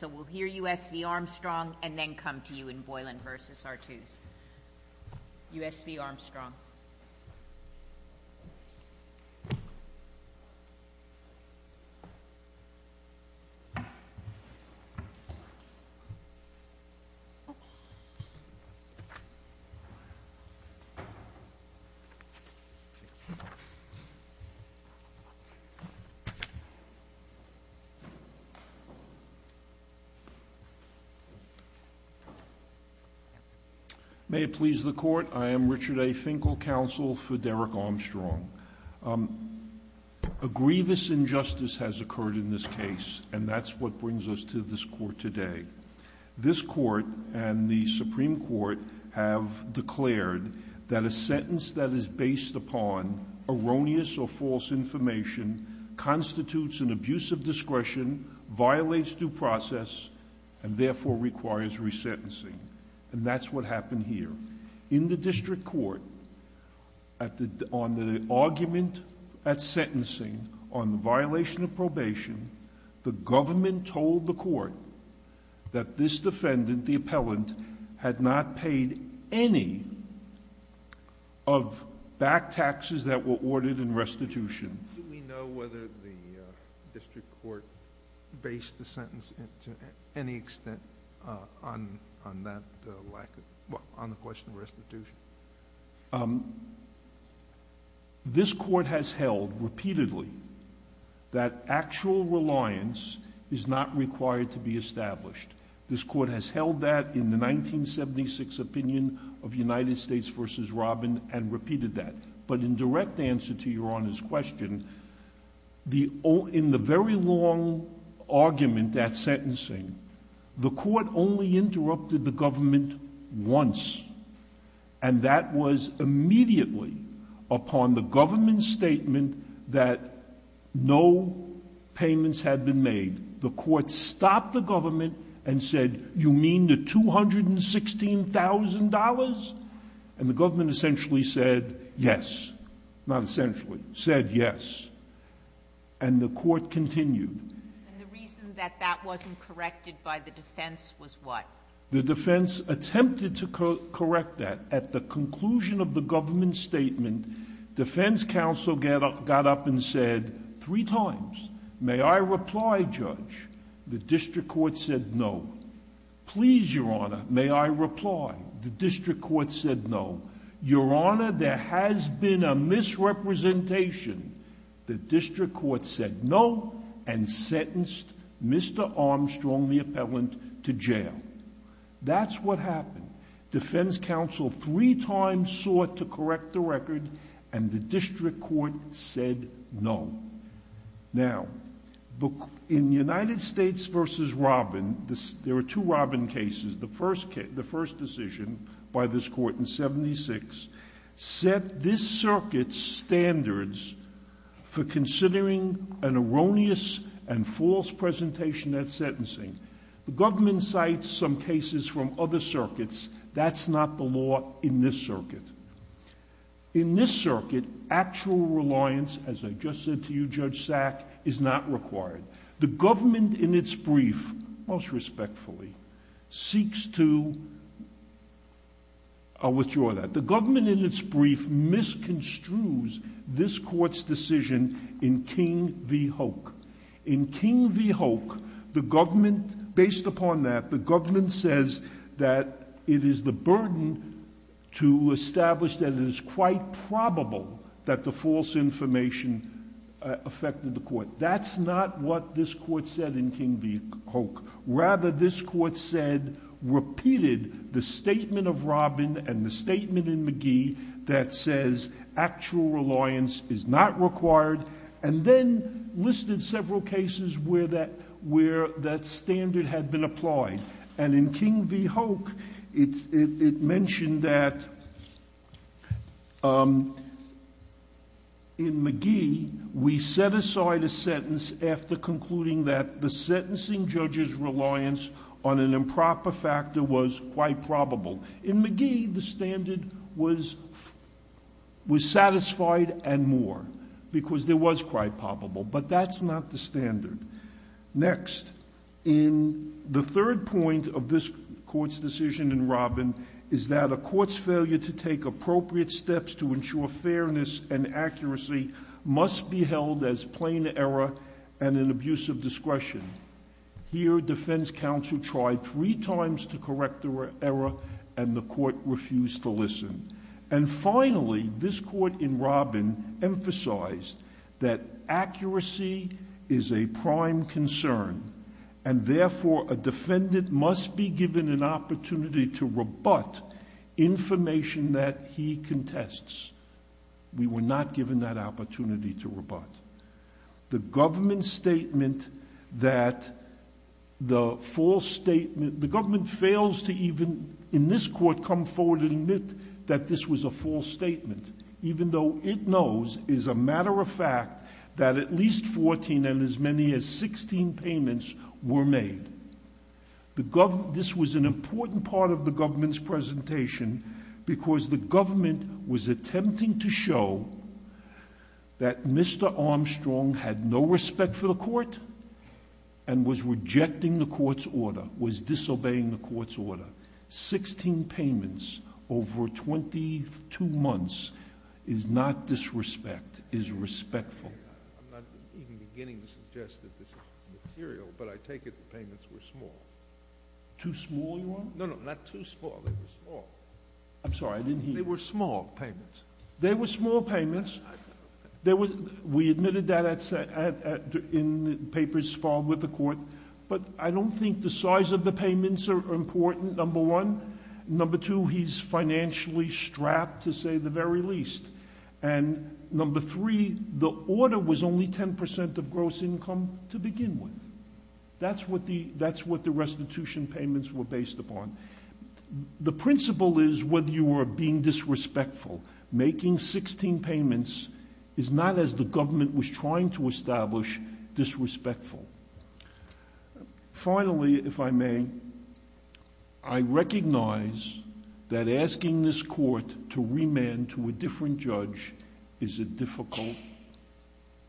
So we'll hear U.S. v. Armstrong and then come to you in Boylan v. R2s. U.S. v. Armstrong. May it please the court, I am Richard A. Finkel, counsel for Derrick Armstrong. A grievous injustice has occurred in this case, and that's what brings us to this court today. This court and the Supreme Court have declared that a sentence that is based upon erroneous or false information constitutes an abuse of discretion, violates due process, and therefore requires resentencing. And that's what happened here. In the district court, on the argument at sentencing on the violation of probation, the government told the court that this defendant, the appellant, had not paid any of back taxes that were ordered in restitution. Do we know whether the district court based the sentence to any extent on the question of restitution? This court has held repeatedly that actual reliance is not required to be established. This court has held that in the 1976 opinion of United States v. Robin and repeated that. But in direct answer to Your Honor's question, in the very long argument at sentencing, the court only interrupted the government once. And that was immediately upon the government's statement that no payments had been made. The court stopped the government and said, you mean the $216,000? And the government essentially said yes. Not essentially. Said yes. And the court continued. And the reason that that wasn't corrected by the defense was what? The defense attempted to correct that. At the conclusion of the government statement, defense counsel got up and said three times, may I reply, Judge? The district court said no. Please, Your Honor, may I reply? The district court said no. Your Honor, there has been a misrepresentation. The district court said no and sentenced Mr. Armstrong, the appellant, to jail. That's what happened. Defense counsel three times sought to correct the record, and the district court said no. Now, in United States v. Robin, there were two Robin cases. The first decision by this court in 76 set this circuit's standards for considering an erroneous and false presentation at sentencing. The government cites some cases from other circuits. That's not the law in this circuit. In this circuit, actual reliance, as I just said to you, Judge Sack, is not required. The government, in its brief, most respectfully, seeks to withdraw that. The government, in its brief, misconstrues this court's decision in King v. Hoke. In King v. Hoke, the government, based upon that, the government says that it is the established that it is quite probable that the false information affected the court. That's not what this court said in King v. Hoke. Rather, this court said, repeated the statement of Robin and the statement in McGee that says actual reliance is not required, and then listed several cases where that standard had been applied. And in King v. Hoke, it mentioned that in McGee, we set aside a sentence after concluding that the sentencing judge's reliance on an improper factor was quite probable. In McGee, the standard was satisfied and more, because there was quite probable. But that's not the standard. Next, in the third point of this court's decision in Robin, is that a court's failure to take appropriate steps to ensure fairness and accuracy must be held as plain error and an abuse of discretion. Here, defense counsel tried three times to correct the error, and the court refused to listen. And finally, this court in Robin emphasized that accuracy is a prime concern, and therefore a defendant must be given an opportunity to rebut information that he contests. We were not given that opportunity to rebut. The government statement that the false statement, the government fails to even, in this court, come forward and admit that this was a false statement, even though it knows, as a matter of fact, that at least 14 and as many as 16 payments were made. This was an important part of the government's presentation because the government was attempting to show that Mr. Armstrong had no respect for the court and was rejecting the court's order, was disobeying the court's order. Sixteen payments over 22 months is not disrespect, is respectful. I'm not even beginning to suggest that this is material, but I take it the payments were small. Too small, you are? No, no, not too small. They were small. I'm sorry. I didn't hear you. They were small payments. They were small payments. We admitted that in papers filed with the court. But I don't think the size of the payments are important, number one. Number two, he's financially strapped, to say the very least. And number three, the order was only 10% of gross income to begin with. That's what the restitution payments were based upon. The principle is whether you are being disrespectful. Making 16 payments is not, as the government was trying to establish, disrespectful. Finally, if I may, I recognize that asking this court to remand to a different judge is a difficult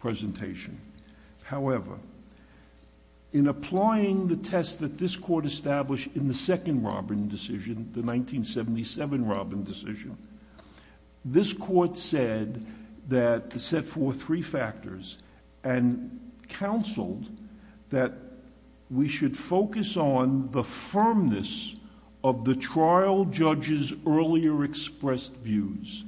presentation. However, in applying the test that this court established in the second Robin decision, the 1977 Robin decision, this court said for three factors and counseled that we should focus on the firmness of the trial judge's earlier expressed views.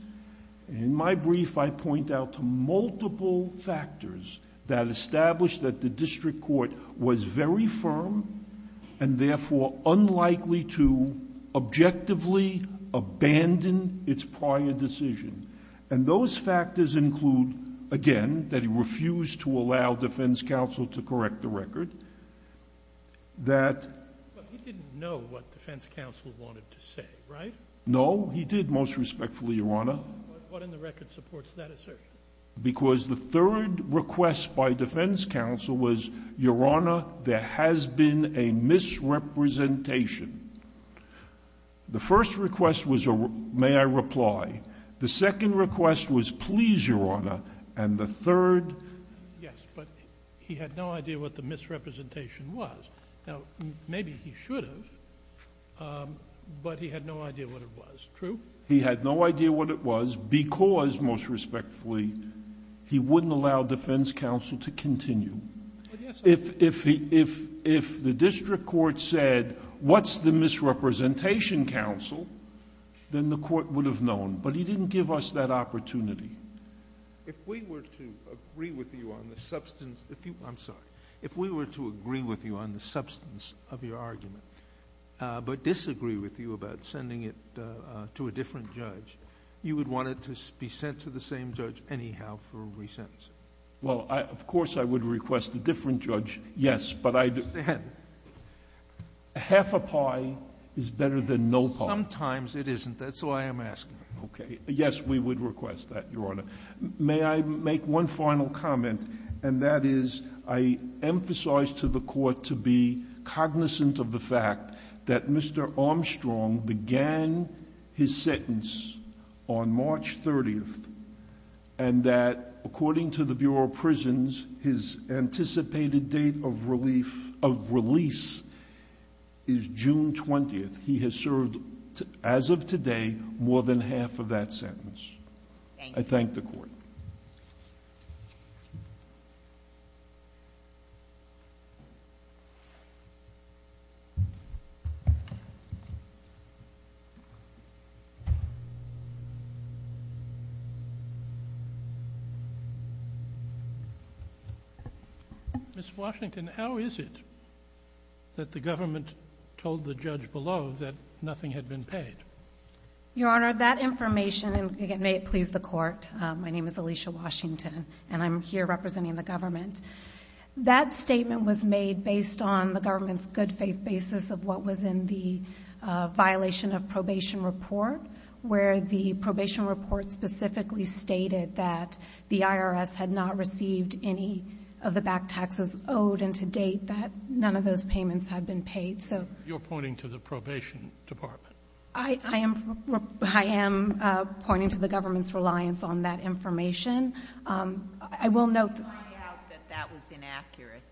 In my brief, I point out multiple factors that established that the district court was very firm and therefore unlikely to objectively abandon its prior decision. And those factors include, again, that he refused to allow defense counsel to correct the record, that he didn't know what defense counsel wanted to say, right? No, he did, most respectfully, Your Honor. What in the record supports that assertion? Because the third request by defense counsel was, Your Honor, there has been a misrepresentation. The first request was, may I reply. The second request was, please, Your Honor. And the third... Yes, but he had no idea what the misrepresentation was. Now, maybe he should have, but he had no idea what it was. True? He had no idea what it was because, most respectfully, he wouldn't allow defense counsel to continue. If the district court said, what's the misrepresentation, counsel, then the court would have known. But he didn't give us that opportunity. If we were to agree with you on the substance of your argument, but disagree with you about sending it to a different judge, you would want it to be sent to the same judge anyhow for re-sentencing? Well, of course I would request a different judge, yes, but I... I understand. Half a pie is better than no pie. Sometimes it isn't. That's why I'm asking. Okay. Yes, we would request that, Your Honor. May I make one final comment, and that is, I emphasize to the Court to be cognizant of the fact that Mr. Armstrong began his sentence on March 30th, and that, according to the Bureau of Prisons, his anticipated date of relief of release is June 20th. He has served, as of today, more than half of that sentence. Thank you. I thank the Court. Ms. Washington, how is it that the government told the judge below that nothing had been paid? Your Honor, that information, and again, may it please the Court, my name is Alicia Washington, and I'm here representing the government. That statement was made based on the government's good faith basis of what was in the violation of probation report, where the probation report specifically stated that the IRS had not received any of the back taxes owed, and to date, that none of those payments had been paid. You're pointing to the probation department. I am pointing to the government's reliance on that information. I will note that that was inaccurate.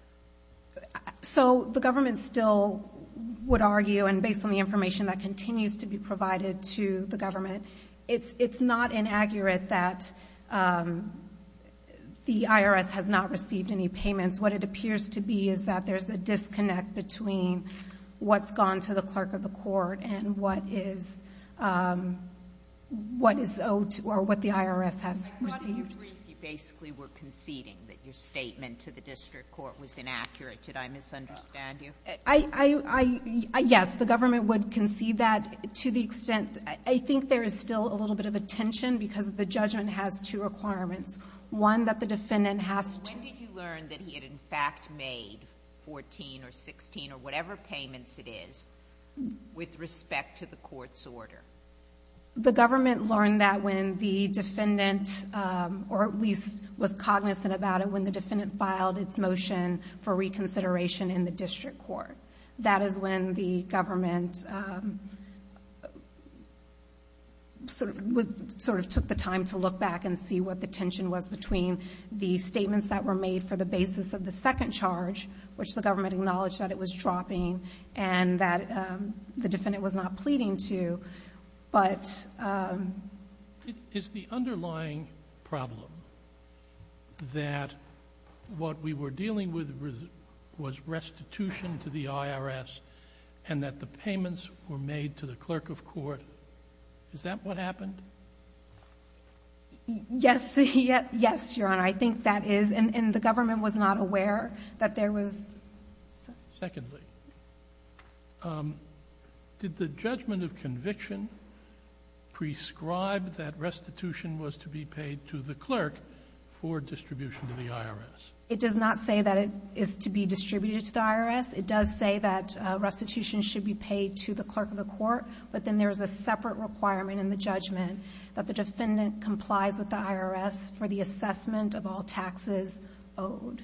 So the government still would argue, and based on the information that continues to be provided to the government, it's not inaccurate that the IRS has not received any payments. What it appears to be is that there's a disconnect between what's gone to the clerk of the court and what is owed or what the IRS has received. How do you agree if you basically were conceding that your statement to the district court was inaccurate? Did I misunderstand you? Yes, the government would concede that to the extent... I think there is still a little bit of a tension because the judgment has two requirements. One, that the defendant has to... In fact, made 14 or 16 or whatever payments it is with respect to the court's order. The government learned that when the defendant, or at least was cognizant about it when the defendant filed its motion for reconsideration in the district court. That is when the government sort of took the time to look back and see what the tension was between the statements that were made for the basis of the second charge, which the government acknowledged that it was dropping and that the defendant was not pleading to, but... Is the underlying problem that what we were dealing with was restitution to the IRS and that the payments were made to the clerk of court, is that what happened? Yes. Yes, Your Honor. I think that is. And the government was not aware that there was... Secondly, did the judgment of conviction prescribe that restitution was to be paid to the clerk for distribution to the IRS? It does not say that it is to be distributed to the IRS. It does say that restitution should be paid to the clerk of the court, but then there is a separate requirement in the judgment that the defendant complies with the IRS for the assessment of all taxes owed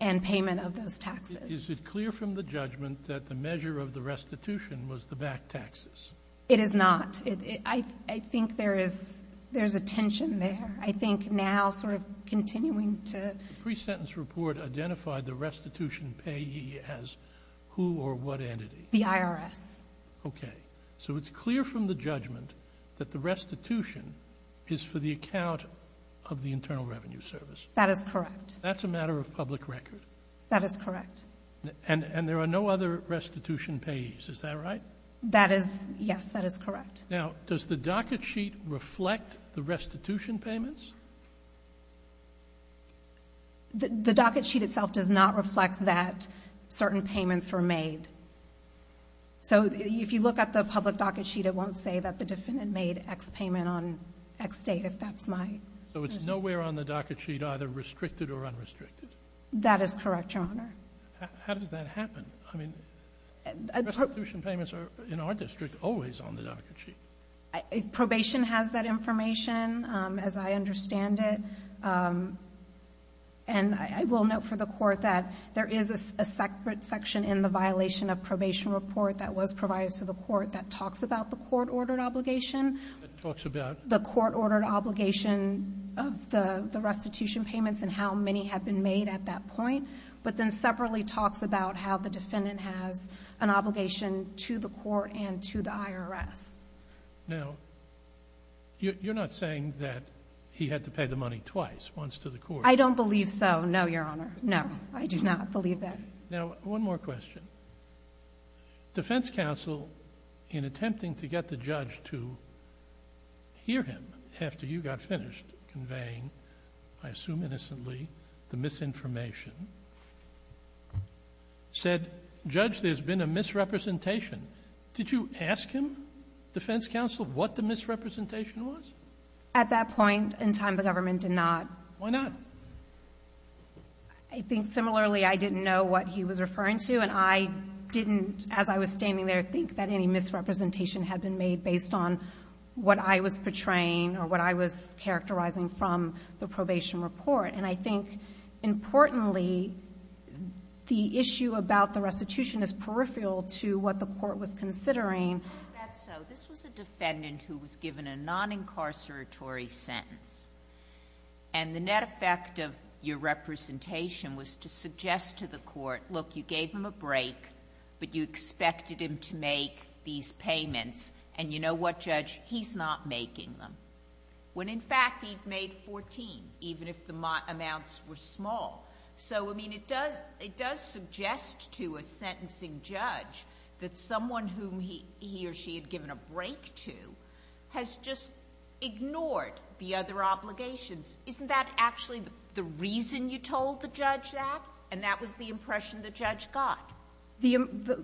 and payment of those taxes. Is it clear from the judgment that the measure of the restitution was the back taxes? It is not. I think there is a tension there. I think now sort of continuing to... The pre-sentence report identified the restitution payee as who or what entity? The IRS. Okay. So it's clear from the judgment that the restitution is for the account of the Internal Revenue Service? That is correct. That's a matter of public record? That is correct. And there are no other restitution payees, is that right? That is... Yes, that is correct. Now, does the docket sheet reflect the restitution payments? The docket sheet itself does not reflect that certain payments were made. So if you look at the public docket sheet, it won't say that the defendant made X payment on X date, if that's my... So it's nowhere on the docket sheet, either restricted or unrestricted? That is correct, Your Honor. How does that happen? I mean, restitution payments are, in our district, always on the docket sheet. Probation has that information, as I understand it. And I will note for the court that there is a separate section in the violation of probation report that was provided to the court that talks about the court-ordered obligation. It talks about... The court-ordered obligation of the restitution payments and how many have been made at that point, but then separately talks about how the defendant has an obligation to the court and to the IRS. Now, you're not saying that he had to pay the money twice, once to the court? I don't believe so, no, Your Honor. No, I do not believe that. Now, one more question. Defense counsel, in attempting to get the judge to hear him after you got finished conveying, I assume innocently, the misinformation, said, Judge, there's been a misrepresentation. Did you ask him, defense counsel, what the misrepresentation was? At that point in time, the government did not. Why not? I think, similarly, I didn't know what he was referring to, and I didn't, as I was standing there, think that any misrepresentation had been made based on what I was portraying or what I was characterizing from the probation report. And I think, importantly, the issue about the restitution is peripheral to what the court was considering. If that's so, this was a defendant who was given a non-incarceratory sentence, and the net effect of your representation was to suggest to the court, look, you gave him a break, but you expected him to make these payments, and you know what, Judge, he's not making them. When, in fact, he made 14, even if the amounts were small. So, I mean, it does suggest to a sentencing judge that someone whom he or she had given a break to has just ignored the other obligations. Isn't that actually the reason you told the judge that, and that was the impression the judge got?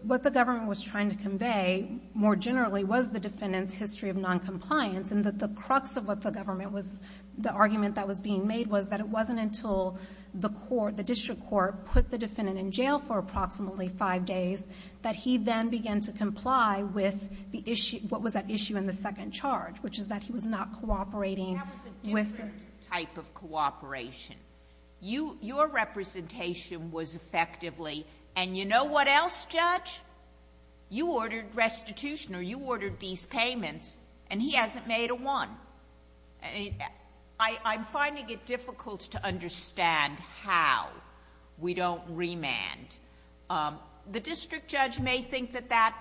What the government was trying to convey, more generally, was the defendant's history of noncompliance and that the crux of what the government was, the argument that was being made, was that it wasn't until the court, the district court, put the defendant in jail for approximately 5 days that he then began to comply with the issue, what was at issue in the second charge, which is that he was not cooperating with the... That was a different type of cooperation. You ordered restitution, or you ordered these payments, and he hasn't made a one. I'm finding it difficult to understand how we don't remand. The district judge may think that that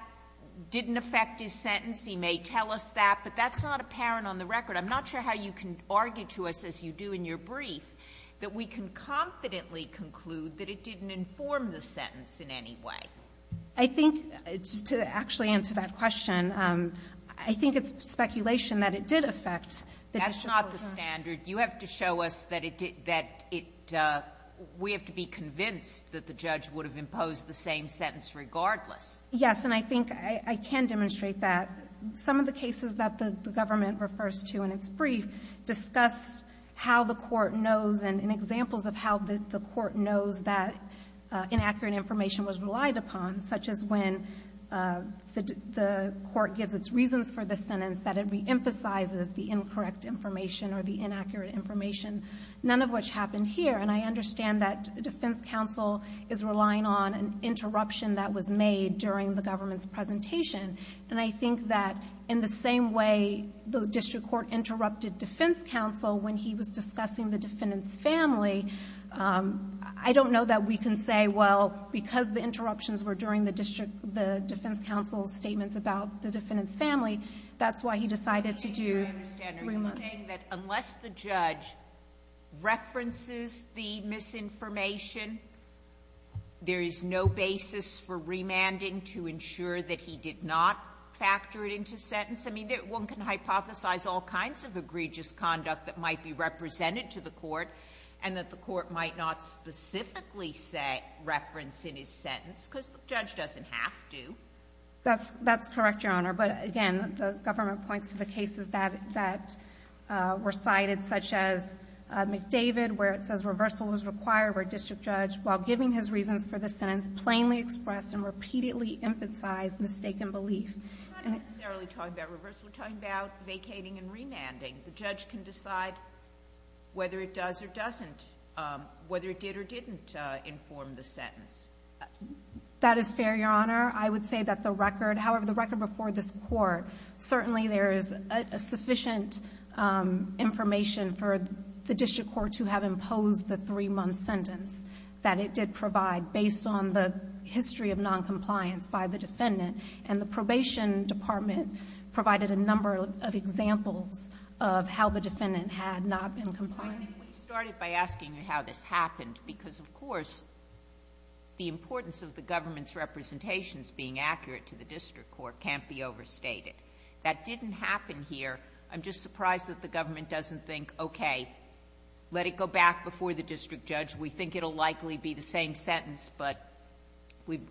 didn't affect his sentence. He may tell us that, but that's not apparent on the record. I'm not sure how you can argue to us, as you do in your brief, that we can confidently conclude that it didn't inform the sentence in any way. I think, to actually answer that question, I think it's speculation that it did affect the district court. That's not the standard. You have to show us that it did, that it, we have to be convinced that the judge would have imposed the same sentence regardless. Yes, and I think I can demonstrate that. Some of the cases that the government refers to in its brief discuss how the court knows that inaccurate information was relied upon, such as when the court gives its reasons for the sentence, that it reemphasizes the incorrect information or the inaccurate information, none of which happened here. And I understand that defense counsel is relying on an interruption that was made during the government's presentation. And I think that in the same way the district court interrupted defense counsel when he was discussing the defendant's family, I don't know that we can say, well, because the interruptions were during the district, the defense counsel's statements about the defendant's family, that's why he decided to do three months. Sotomayor, you're saying that unless the judge references the misinformation, there is no basis for remanding to ensure that he did not factor it into sentence? I mean, one can hypothesize all kinds of egregious conduct that might be represented to the court, and that the court might not specifically say reference in his sentence, because the judge doesn't have to. That's correct, Your Honor. But again, the government points to the cases that were cited, such as McDavid, where it says reversal was required where a district judge, while giving his reasons for the sentence, plainly expressed and repeatedly emphasized mistaken belief. We're not necessarily talking about reversal. We're talking about vacating and remanding. The judge can decide whether it does or doesn't, whether it did or didn't inform the sentence. That is fair, Your Honor. I would say that the record, however, the record before this Court, certainly there is sufficient information for the district court to have imposed the three-month sentence that it did provide based on the history of noncompliance by the defendant and the probation department provided a number of examples of how the defendant had not been compliant. I think we started by asking you how this happened, because, of course, the importance of the government's representations being accurate to the district court can't be overstated. That didn't happen here. I'm just surprised that the government doesn't think, okay, let it go back before the district judge. We think it will likely be the same sentence, but we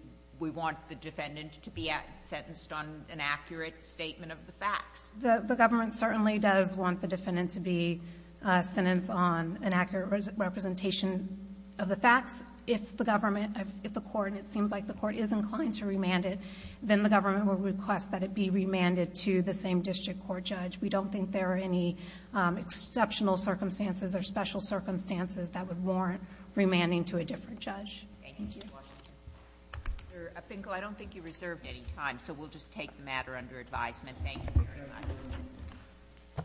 want the defendant to be sentenced on an accurate statement of the facts. The government certainly does want the defendant to be sentenced on an accurate representation of the facts. If the government, if the Court, and it seems like the Court is inclined to remand it, then the government would request that it be remanded to the same district court judge. We don't think there are any exceptional circumstances or special circumstances that would warrant remanding to a different judge. Thank you. Mr. Finkel, I don't think you reserved any time, so we'll just take the matter under advisement. Thank you very much.